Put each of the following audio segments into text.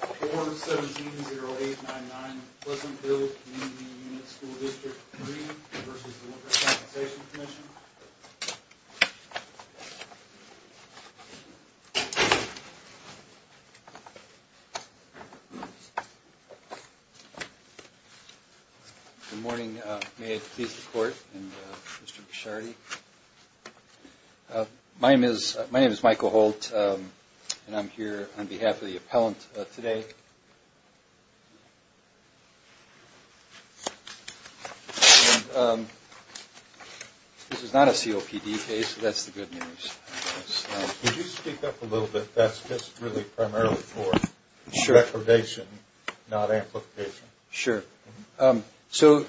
4-170-899 Pleasant Hill Community Unit School District 3 v. The Workers' Compensation Commission Good morning. May it please the Court and Mr. Bishardi. My name is Michael Holt and I'm here on behalf of the appellant today. This is not a COPD case, so that's the good news. Could you speak up a little bit? That's just really primarily for deprivation, not amplification. Sure. So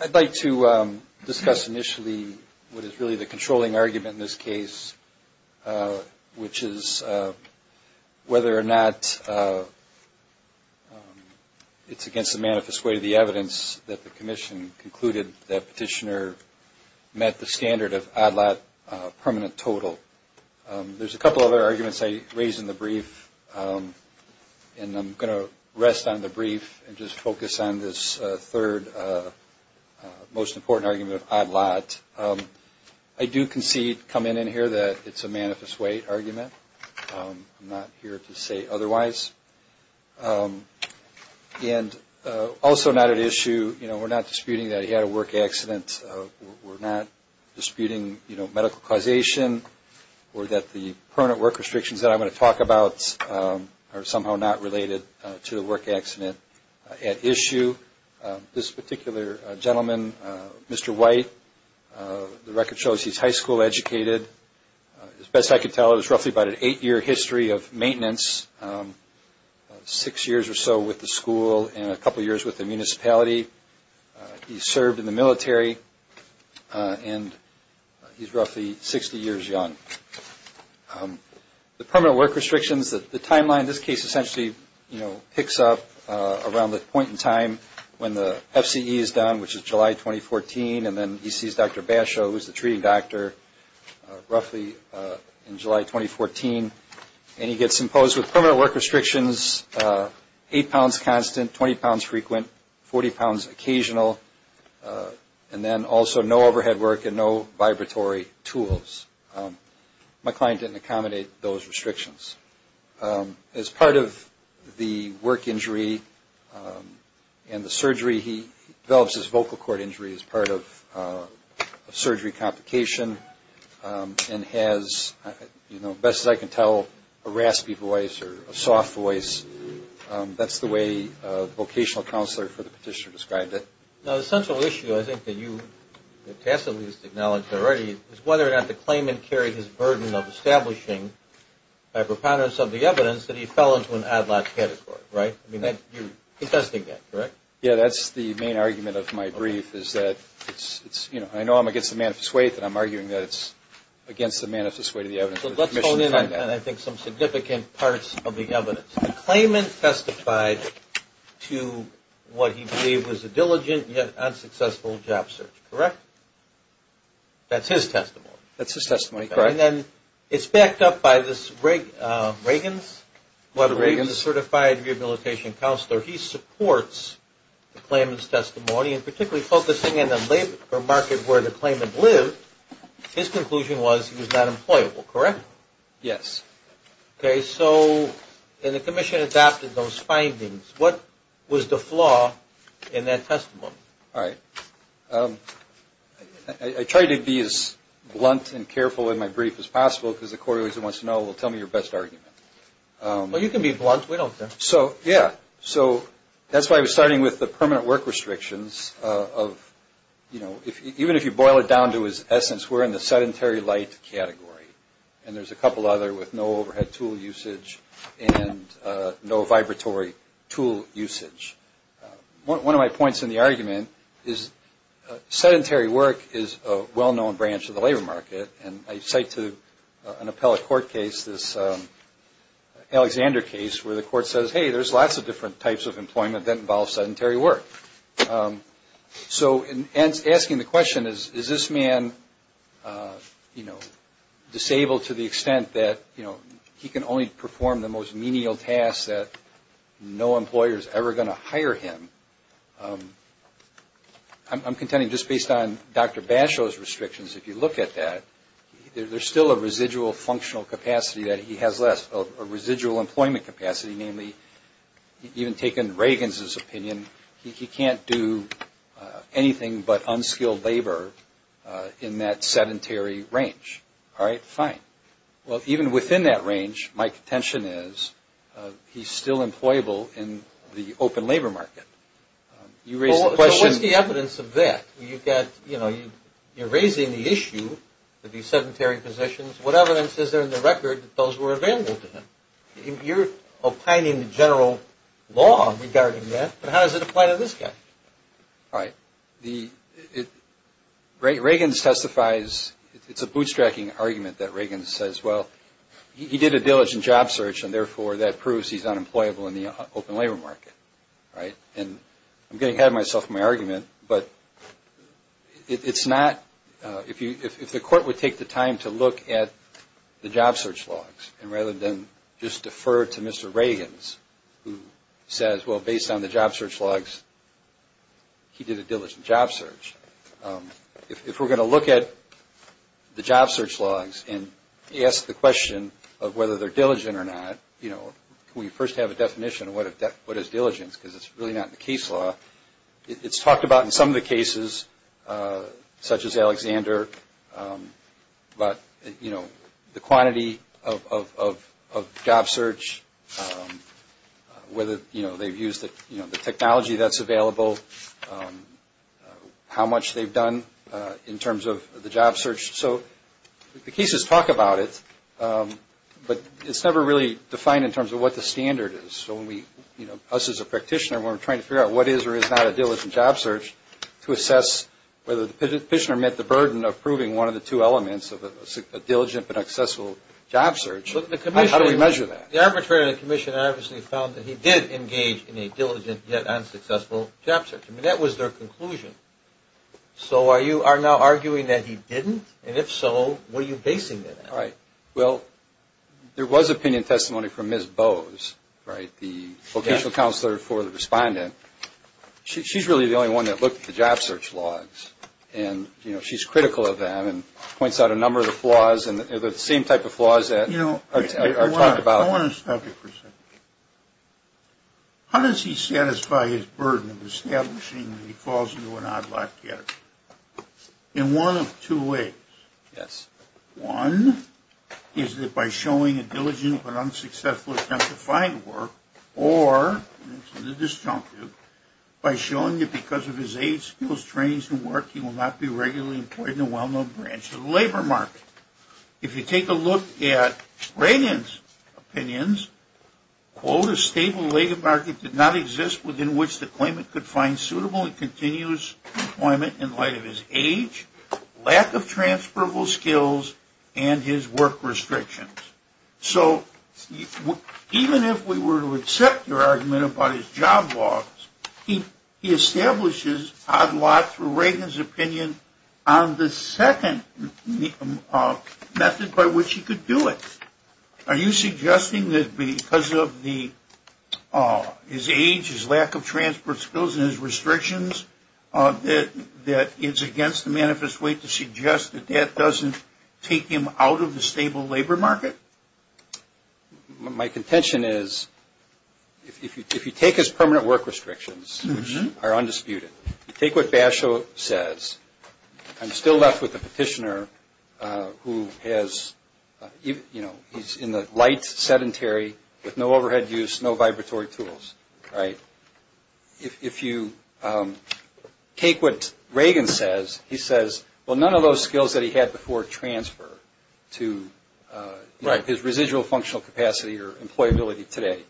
I'd like to discuss initially what is really the controlling argument in this case, which is whether or not it's against the manifest way of the evidence that the Commission concluded that Petitioner met the standard of ADLAT permanent total. There's a couple other arguments I raised in the brief, and I'm going to rest on the brief and just focus on this third most important argument of ADLAT. I do concede, coming in here, that it's a manifest way argument. I'm not here to say otherwise. And also not at issue, you know, we're not disputing that he had a work accident. We're not disputing, you know, medical causation or that the permanent work restrictions that I'm going to talk about are somehow not related to the work accident. At issue, this particular gentleman, Mr. White, the record shows he's high school educated. As best I could tell, it was roughly about an eight-year history of maintenance, six years or so with the school and a couple years with the municipality. He served in the military, and he's roughly 60 years young. The permanent work restrictions, the timeline in this case essentially, you know, picks up around the point in time when the FCE is done, which is July 2014, and then he sees Dr. Basho, who's the treating doctor, roughly in July 2014. And he gets imposed with permanent work restrictions, eight pounds constant, 20 pounds frequent, 40 pounds occasional, and then also no overhead work and no vibratory tools. My client didn't accommodate those restrictions. As part of the work injury and the surgery, he develops his vocal cord injury as part of surgery complication and has, you know, best as I can tell, a raspy voice or a soft voice. That's the way the vocational counselor for the petitioner described it. Now, the central issue I think that you tacitly acknowledged already is whether or not the claimant carried his burden of establishing by preponderance of the evidence that he fell into an ad-lib category, right? I mean, you're contesting that, correct? Yeah, that's the main argument of my brief is that it's, you know, I know I'm against the manifest way that I'm arguing that it's against the manifest way to the evidence. So let's hone in on, I think, some significant parts of the evidence. The claimant testified to what he believed was a diligent yet unsuccessful job search, correct? That's his testimony. That's his testimony, correct. And then it's backed up by this Reagan's Certified Rehabilitation Counselor. He supports the claimant's testimony and particularly focusing in a market where the claimant lived, his conclusion was he was not employable, correct? Yes. Okay. So then the commission adopted those findings. What was the flaw in that testimony? All right. I try to be as blunt and careful in my brief as possible because the court always wants to know, well, tell me your best argument. Well, you can be blunt. We don't care. So, yeah. So that's why I was starting with the permanent work restrictions of, you know, even if you boil it down to his essence, we're in the sedentary light category. And there's a couple other with no overhead tool usage and no vibratory tool usage. One of my points in the argument is sedentary work is a well-known branch of the labor market. And I cite to an appellate court case this Alexander case where the court says, hey, there's lots of different types of employment that involve sedentary work. So in asking the question, is this man, you know, disabled to the extent that, you know, he can only perform the most menial tasks that no employer is ever going to hire him, I'm contending just based on Dr. Basho's restrictions, if you look at that, there's still a residual functional capacity that he has less, a residual employment capacity, namely even taking Reagan's opinion, he can't do anything but unskilled labor in that sedentary range. All right, fine. Well, even within that range, my contention is he's still employable in the open labor market. You raised the question. Well, what's the evidence of that? You've got, you know, you're raising the issue of these sedentary positions. What evidence is there in the record that those were available to him? You're opining the general law regarding that, but how does it apply to this guy? All right. Reagan testifies, it's a bootstrapping argument that Reagan says, well, he did a diligent job search, and therefore that proves he's unemployable in the open labor market, right? And I'm getting ahead of myself in my argument, but it's not, if the court would take the time to look at the job search logs and rather than just defer to Mr. Reagan's who says, well, based on the job search logs, he did a diligent job search. If we're going to look at the job search logs and ask the question of whether they're diligent or not, you know, can we first have a definition of what is diligence because it's really not in the case law. It's talked about in some of the cases, such as Alexander, but, you know, the quantity of job search, whether, you know, they've used the technology that's available, how much they've done in terms of the job search. So the cases talk about it, but it's never really defined in terms of what the standard is. So when we, you know, us as a practitioner, we're trying to figure out what is or is not a diligent job search to assess whether the petitioner met the burden of proving one of the two elements of a diligent but accessible job search. How do we measure that? The arbitrator of the commission obviously found that he did engage in a diligent yet unsuccessful job search. I mean, that was their conclusion. So you are now arguing that he didn't, and if so, what are you basing it on? All right. Well, there was opinion testimony from Ms. Bowes, right, the vocational counselor for the respondent. She's really the only one that looked at the job search logs, and, you know, she's critical of them and points out a number of the flaws, and they're the same type of flaws that are talked about. You know, I want to stop you for a second. How does he satisfy his burden of establishing that he falls into an odd-lock category? In one of two ways. Yes. One is that by showing a diligent but unsuccessful attempt to find work, or, and this is the disjunctive, by showing that because of his age, skills, trainings, and work, he will not be regularly employed in a well-known branch of the labor market. If you take a look at Braden's opinions, quote, a stable labor market did not exist within which the claimant could find suitable and continuous employment in light of his age. Lack of transferable skills and his work restrictions. So even if we were to accept your argument about his job logs, he establishes odd-lock through Reagan's opinion on the second method by which he could do it. Are you suggesting that because of his age, his lack of transferable skills, and his restrictions that it's against the manifest way to suggest that that doesn't take him out of the stable labor market? My contention is if you take his permanent work restrictions, which are undisputed, you take what Basho says, I'm still left with a petitioner who has, you know, he's in the light, sedentary, with no overhead use, no vibratory tools, right? If you take what Reagan says, he says, well, none of those skills that he had before transfer to his residual functional capacity or employability today.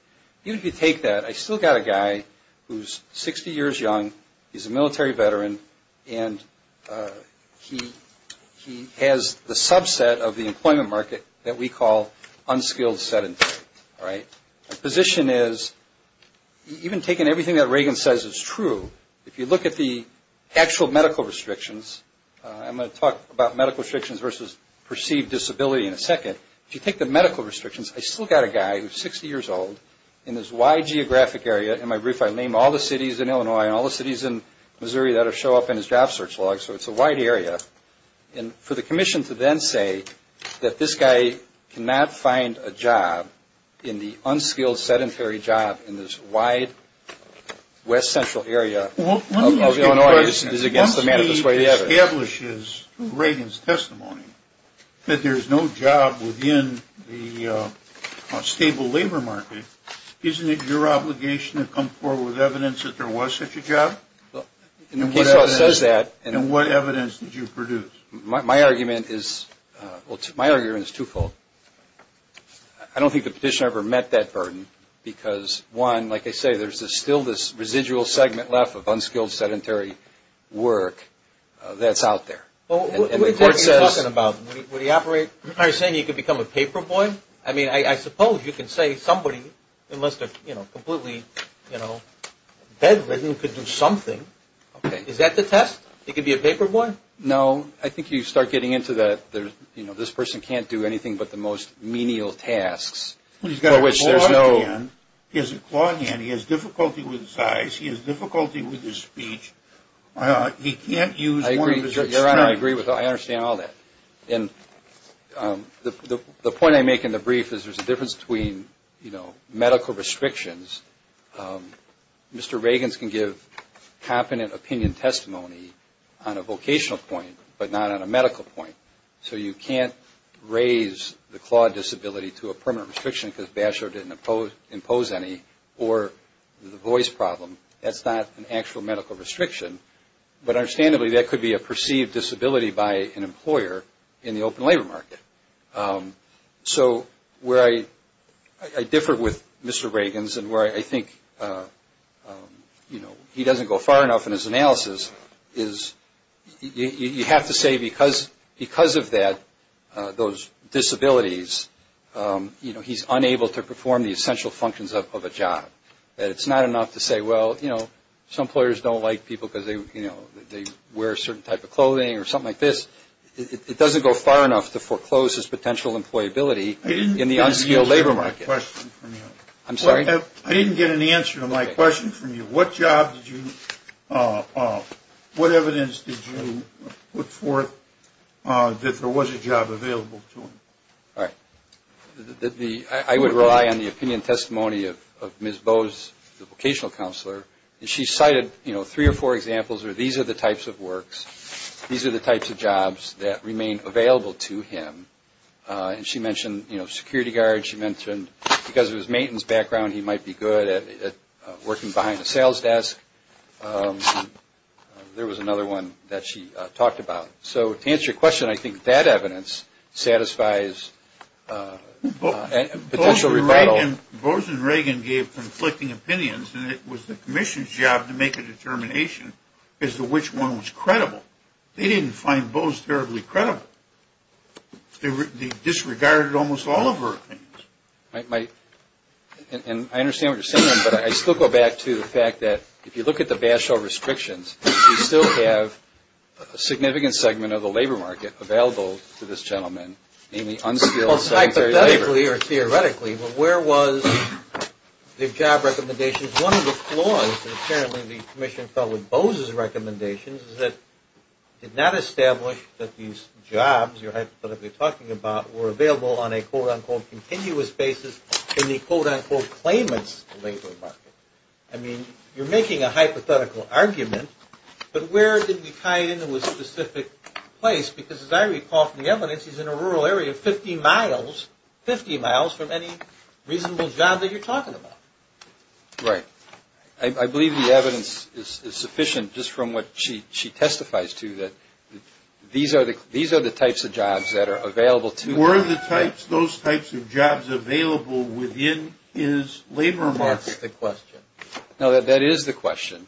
Even if you take that, I still got a guy who's 60 years young, he's a military veteran, and he has the subset of the employment market that we call unskilled sedentary, right? My position is even taking everything that Reagan says is true, if you look at the actual medical restrictions, I'm going to talk about medical restrictions versus perceived disability in a second. If you take the medical restrictions, I still got a guy who's 60 years old in this wide geographic area. In my brief, I name all the cities in Illinois and all the cities in Missouri that show up in his job search log, so it's a wide area. And for the commission to then say that this guy cannot find a job in the unskilled sedentary job in this wide west central area of Illinois is against the manifest way of the evidence. Once he establishes Reagan's testimony that there's no job within the stable labor market, isn't it your obligation to come forward with evidence that there was such a job? Case law says that. And what evidence did you produce? My argument is twofold. I don't think the petitioner ever met that burden because, one, like I say, there's still this residual segment left of unskilled sedentary work that's out there. What are you talking about? Are you saying he could become a paper boy? I mean, I suppose you could say somebody, unless they're completely bedridden, could do something. Is that the test? He could be a paper boy? No. I think you start getting into the, you know, this person can't do anything but the most menial tasks. He's got a claw hand. He has a claw hand. He has difficulty with his eyes. He has difficulty with his speech. He can't use one of his external. I agree with that. I understand all that. And the point I make in the brief is there's a difference between, you know, medical restrictions. Mr. Reagan's can give competent opinion testimony on a vocational point but not on a medical point. So you can't raise the claw disability to a permanent restriction because Basher didn't impose any, or the voice problem. That's not an actual medical restriction. But understandably, that could be a perceived disability by an employer in the open labor market. So where I differ with Mr. Reagan's and where I think, you know, he doesn't go far enough in his analysis is you have to say because of that, those disabilities, you know, he's unable to perform the essential functions of a job. It's not enough to say, well, you know, some employers don't like people because, you know, they wear a certain type of clothing or something like this. It doesn't go far enough to foreclose his potential employability in the unskilled labor market. I didn't get an answer to my question from you. I'm sorry? I didn't get an answer to my question from you. What job did you, what evidence did you put forth that there was a job available to him? All right. I would rely on the opinion testimony of Ms. Bowes, the vocational counselor. And she cited, you know, three or four examples where these are the types of works, these are the types of jobs that remain available to him. And she mentioned, you know, security guards. She mentioned because of his maintenance background, he might be good at working behind a sales desk. There was another one that she talked about. So to answer your question, I think that evidence satisfies potential rebuttal. Bowes and Reagan gave conflicting opinions, and it was the commission's job to make a determination as to which one was credible. They didn't find Bowes terribly credible. They disregarded almost all of her opinions. And I understand what you're saying, but I still go back to the fact that if you look at the available to this gentleman, namely unskilled secretary of labor. Well, hypothetically or theoretically, but where was the job recommendations? One of the flaws, and apparently the commission fell with Bowes' recommendations, is that it did not establish that these jobs you're hypothetically talking about were available on a quote-unquote continuous basis in the quote-unquote claimant's labor market. I mean, you're making a hypothetical argument, but where did we tie it into a specific place? Because as I recall from the evidence, he's in a rural area 50 miles, 50 miles from any reasonable job that you're talking about. Right. I believe the evidence is sufficient just from what she testifies to, that these are the types of jobs that are available to him. Were those types of jobs available within his labor market? That's the question. No, that is the question.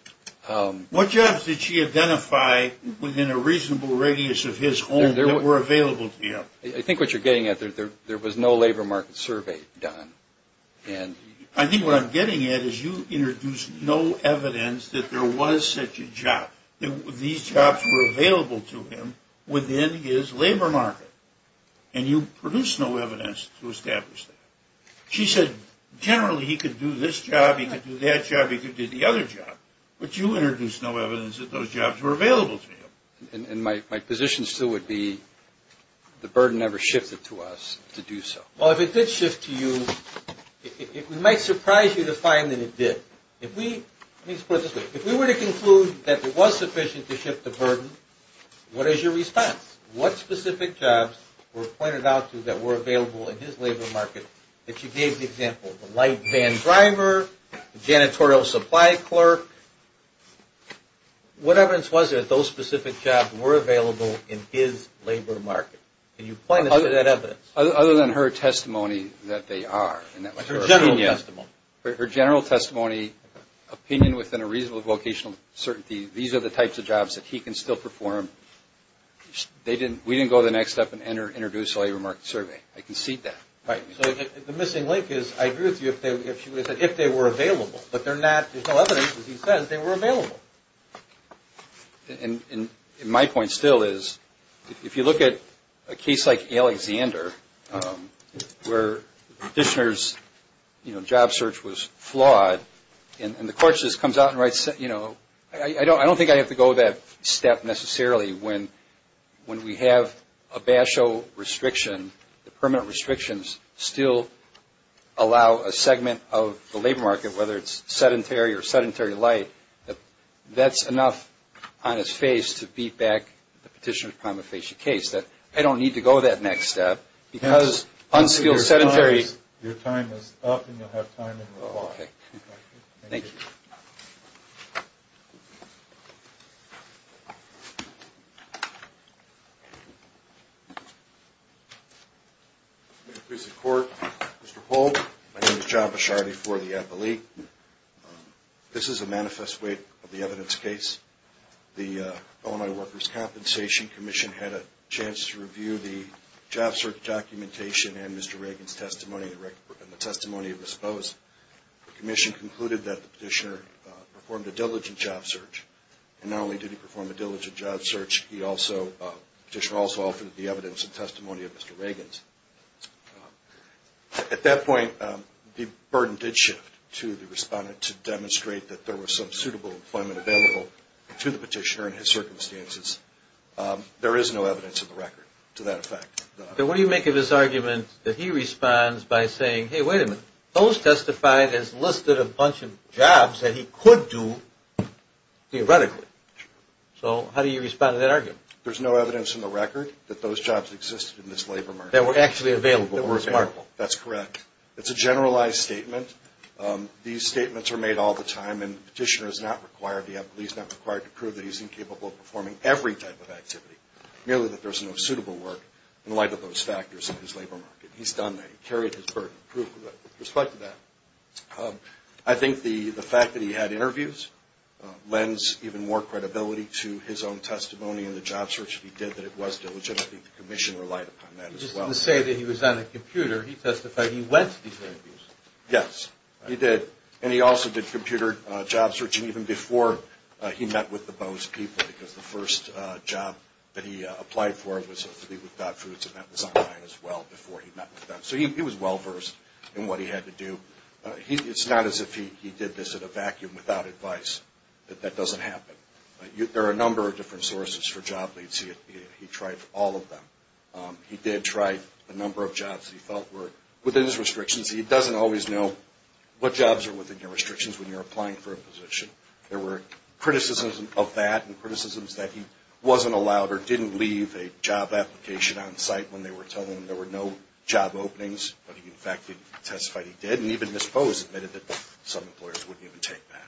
What jobs did she identify within a reasonable radius of his home that were available to him? I think what you're getting at, there was no labor market survey done. I think what I'm getting at is you introduced no evidence that there was such a job, that these jobs were available to him within his labor market, and you produced no evidence to establish that. She said generally he could do this job, he could do that job, he could do the other job. But you introduced no evidence that those jobs were available to him. And my position still would be the burden never shifted to us to do so. Well, if it did shift to you, it might surprise you to find that it did. Let me put it this way. If we were to conclude that it was sufficient to shift the burden, what is your response? What specific jobs were pointed out to that were available in his labor market that you gave the example of the light van driver, janitorial supply clerk? What evidence was there that those specific jobs were available in his labor market? Can you point us to that evidence? Other than her testimony that they are. Her general testimony. Her general testimony, opinion within a reasonable vocational certainty, these are the types of jobs that he can still perform. We didn't go the next step and introduce a labor market survey. I concede that. Right. So the missing link is I agree with you if they were available. But there's no evidence that he says they were available. And my point still is if you look at a case like Alexander where Dishner's job search was flawed and the court just comes out and writes, you know, I don't think I have to go that step necessarily when we have a BASHO restriction, the permanent restrictions still allow a segment of the labor market, whether it's sedentary or sedentary light, that's enough on its face to beat back the petitioner's prima facie case. I don't need to go that next step because unskilled sedentary. Your time is up and you'll have time in the law. Thank you. Thank you. Mr. Polk, my name is John Bishardi for the NLE. This is a manifest way of the evidence case. The Illinois Workers' Compensation Commission had a chance to review the job search documentation and Mr. Reagan's testimony and the testimony of his spouse. The commission concluded that Dishner performed a diligent job search and not only did he perform a diligent job search, he also, Dishner also offered the evidence and testimony of Mr. Reagan's. At that point, the burden did shift to the respondent to demonstrate that there was some suitable employment available to the petitioner in his circumstances. There is no evidence of the record to that effect. Then what do you make of his argument that he responds by saying, hey, wait a minute, those testified has listed a bunch of jobs that he could do theoretically. So how do you respond to that argument? There's no evidence in the record that those jobs existed in this labor market. That were actually available. That were available. That's correct. It's a generalized statement. These statements are made all the time and the petitioner is not required to prove that he's incapable of performing every type of activity, merely that there's no suitable work. In light of those factors in his labor market. He's done that. He carried his burden. Proof of that. Respect to that. I think the fact that he had interviews lends even more credibility to his own testimony and the job search that he did that it was diligent. I think the commission relied upon that as well. Just to say that he was on a computer, he testified he went to these interviews. Yes. He did. And he also did computer job searching even before he met with the Bose people because the first job that he applied for was a flea without fruits and that was online as well before he met with them. So he was well-versed in what he had to do. It's not as if he did this in a vacuum without advice. That doesn't happen. There are a number of different sources for job leads. He tried all of them. He did try a number of jobs that he felt were within his restrictions. He doesn't always know what jobs are within your restrictions when you're applying for a position. There were criticisms of that and criticisms that he wasn't allowed or didn't leave a job application on site when they were telling him there were no job openings. But he, in fact, testified he did. And even Ms. Bose admitted that some employers wouldn't even take that.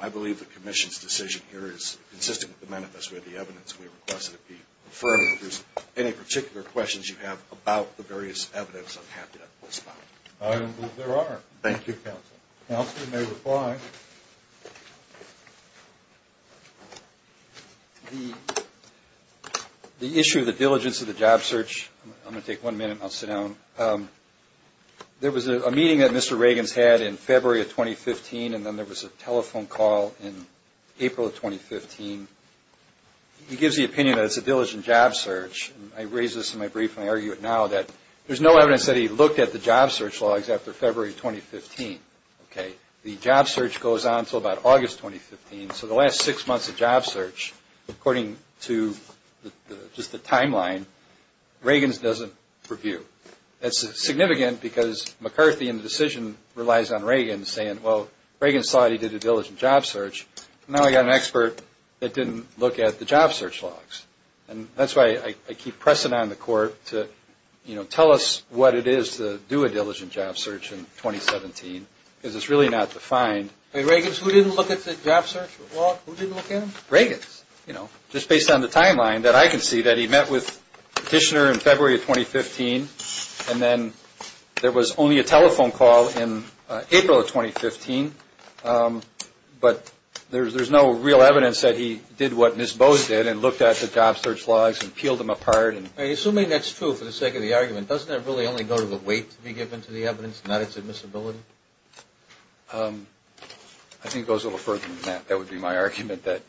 I believe the commission's decision here is consistent with the manifesto of the evidence. We request that it be affirmed. If there's any particular questions you have about the various evidence, I'm happy to respond. I don't believe there are. Thank you, counsel. Counsel, you may reply. The issue of the diligence of the job search, I'm going to take one minute and I'll sit down. There was a meeting that Mr. Reagans had in February of 2015, and then there was a telephone call in April of 2015. He gives the opinion that it's a diligent job search. I raise this in my brief and I argue it now, that there's no evidence that he looked at the job search logs after February 2015. The job search goes on until about August 2015. So the last six months of job search, according to just the timeline, Reagans doesn't review. That's significant because McCarthy in the decision relies on Reagans saying, well, Reagans thought he did a diligent job search. Now I've got an expert that didn't look at the job search logs. That's why I keep pressing on the court to tell us what it is to do a diligent job search in 2017, because it's really not defined. Reagans, who didn't look at the job search logs? Who didn't look at them? Reagans. Just based on the timeline that I can see that he met with the petitioner in February of 2015, and then there was only a telephone call in April of 2015, but there's no real evidence that he did what Ms. Bowes did and looked at the job search logs and peeled them apart. Assuming that's true for the sake of the argument, doesn't that really only go to the weight to be given to the evidence, not its admissibility? I think it goes a little further than that. That would be my argument, that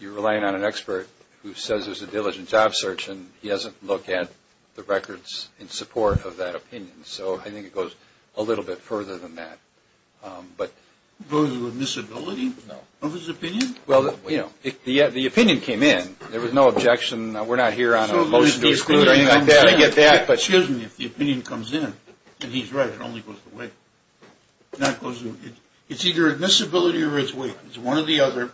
you're relying on an expert who says there's a diligent job search and he doesn't look at the records in support of that opinion. So I think it goes a little bit further than that. Goes to admissibility of his opinion? Well, the opinion came in. There was no objection. We're not here on a motion to exclude or anything like that. Excuse me. If the opinion comes in and he's right, it only goes to weight. It's either admissibility or it's weight. It's one or the other.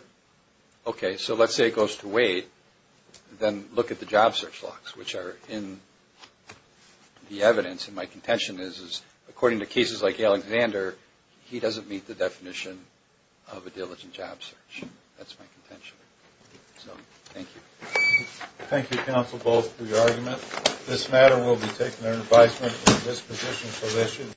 Okay. So let's say it goes to weight. Then look at the job search logs, which are in the evidence. And my contention is, according to cases like Alexander, he doesn't meet the definition of a diligent job search. That's my contention. So thank you. Thank you, counsel, both for your argument. This matter will be taken under advisement of the disposition position.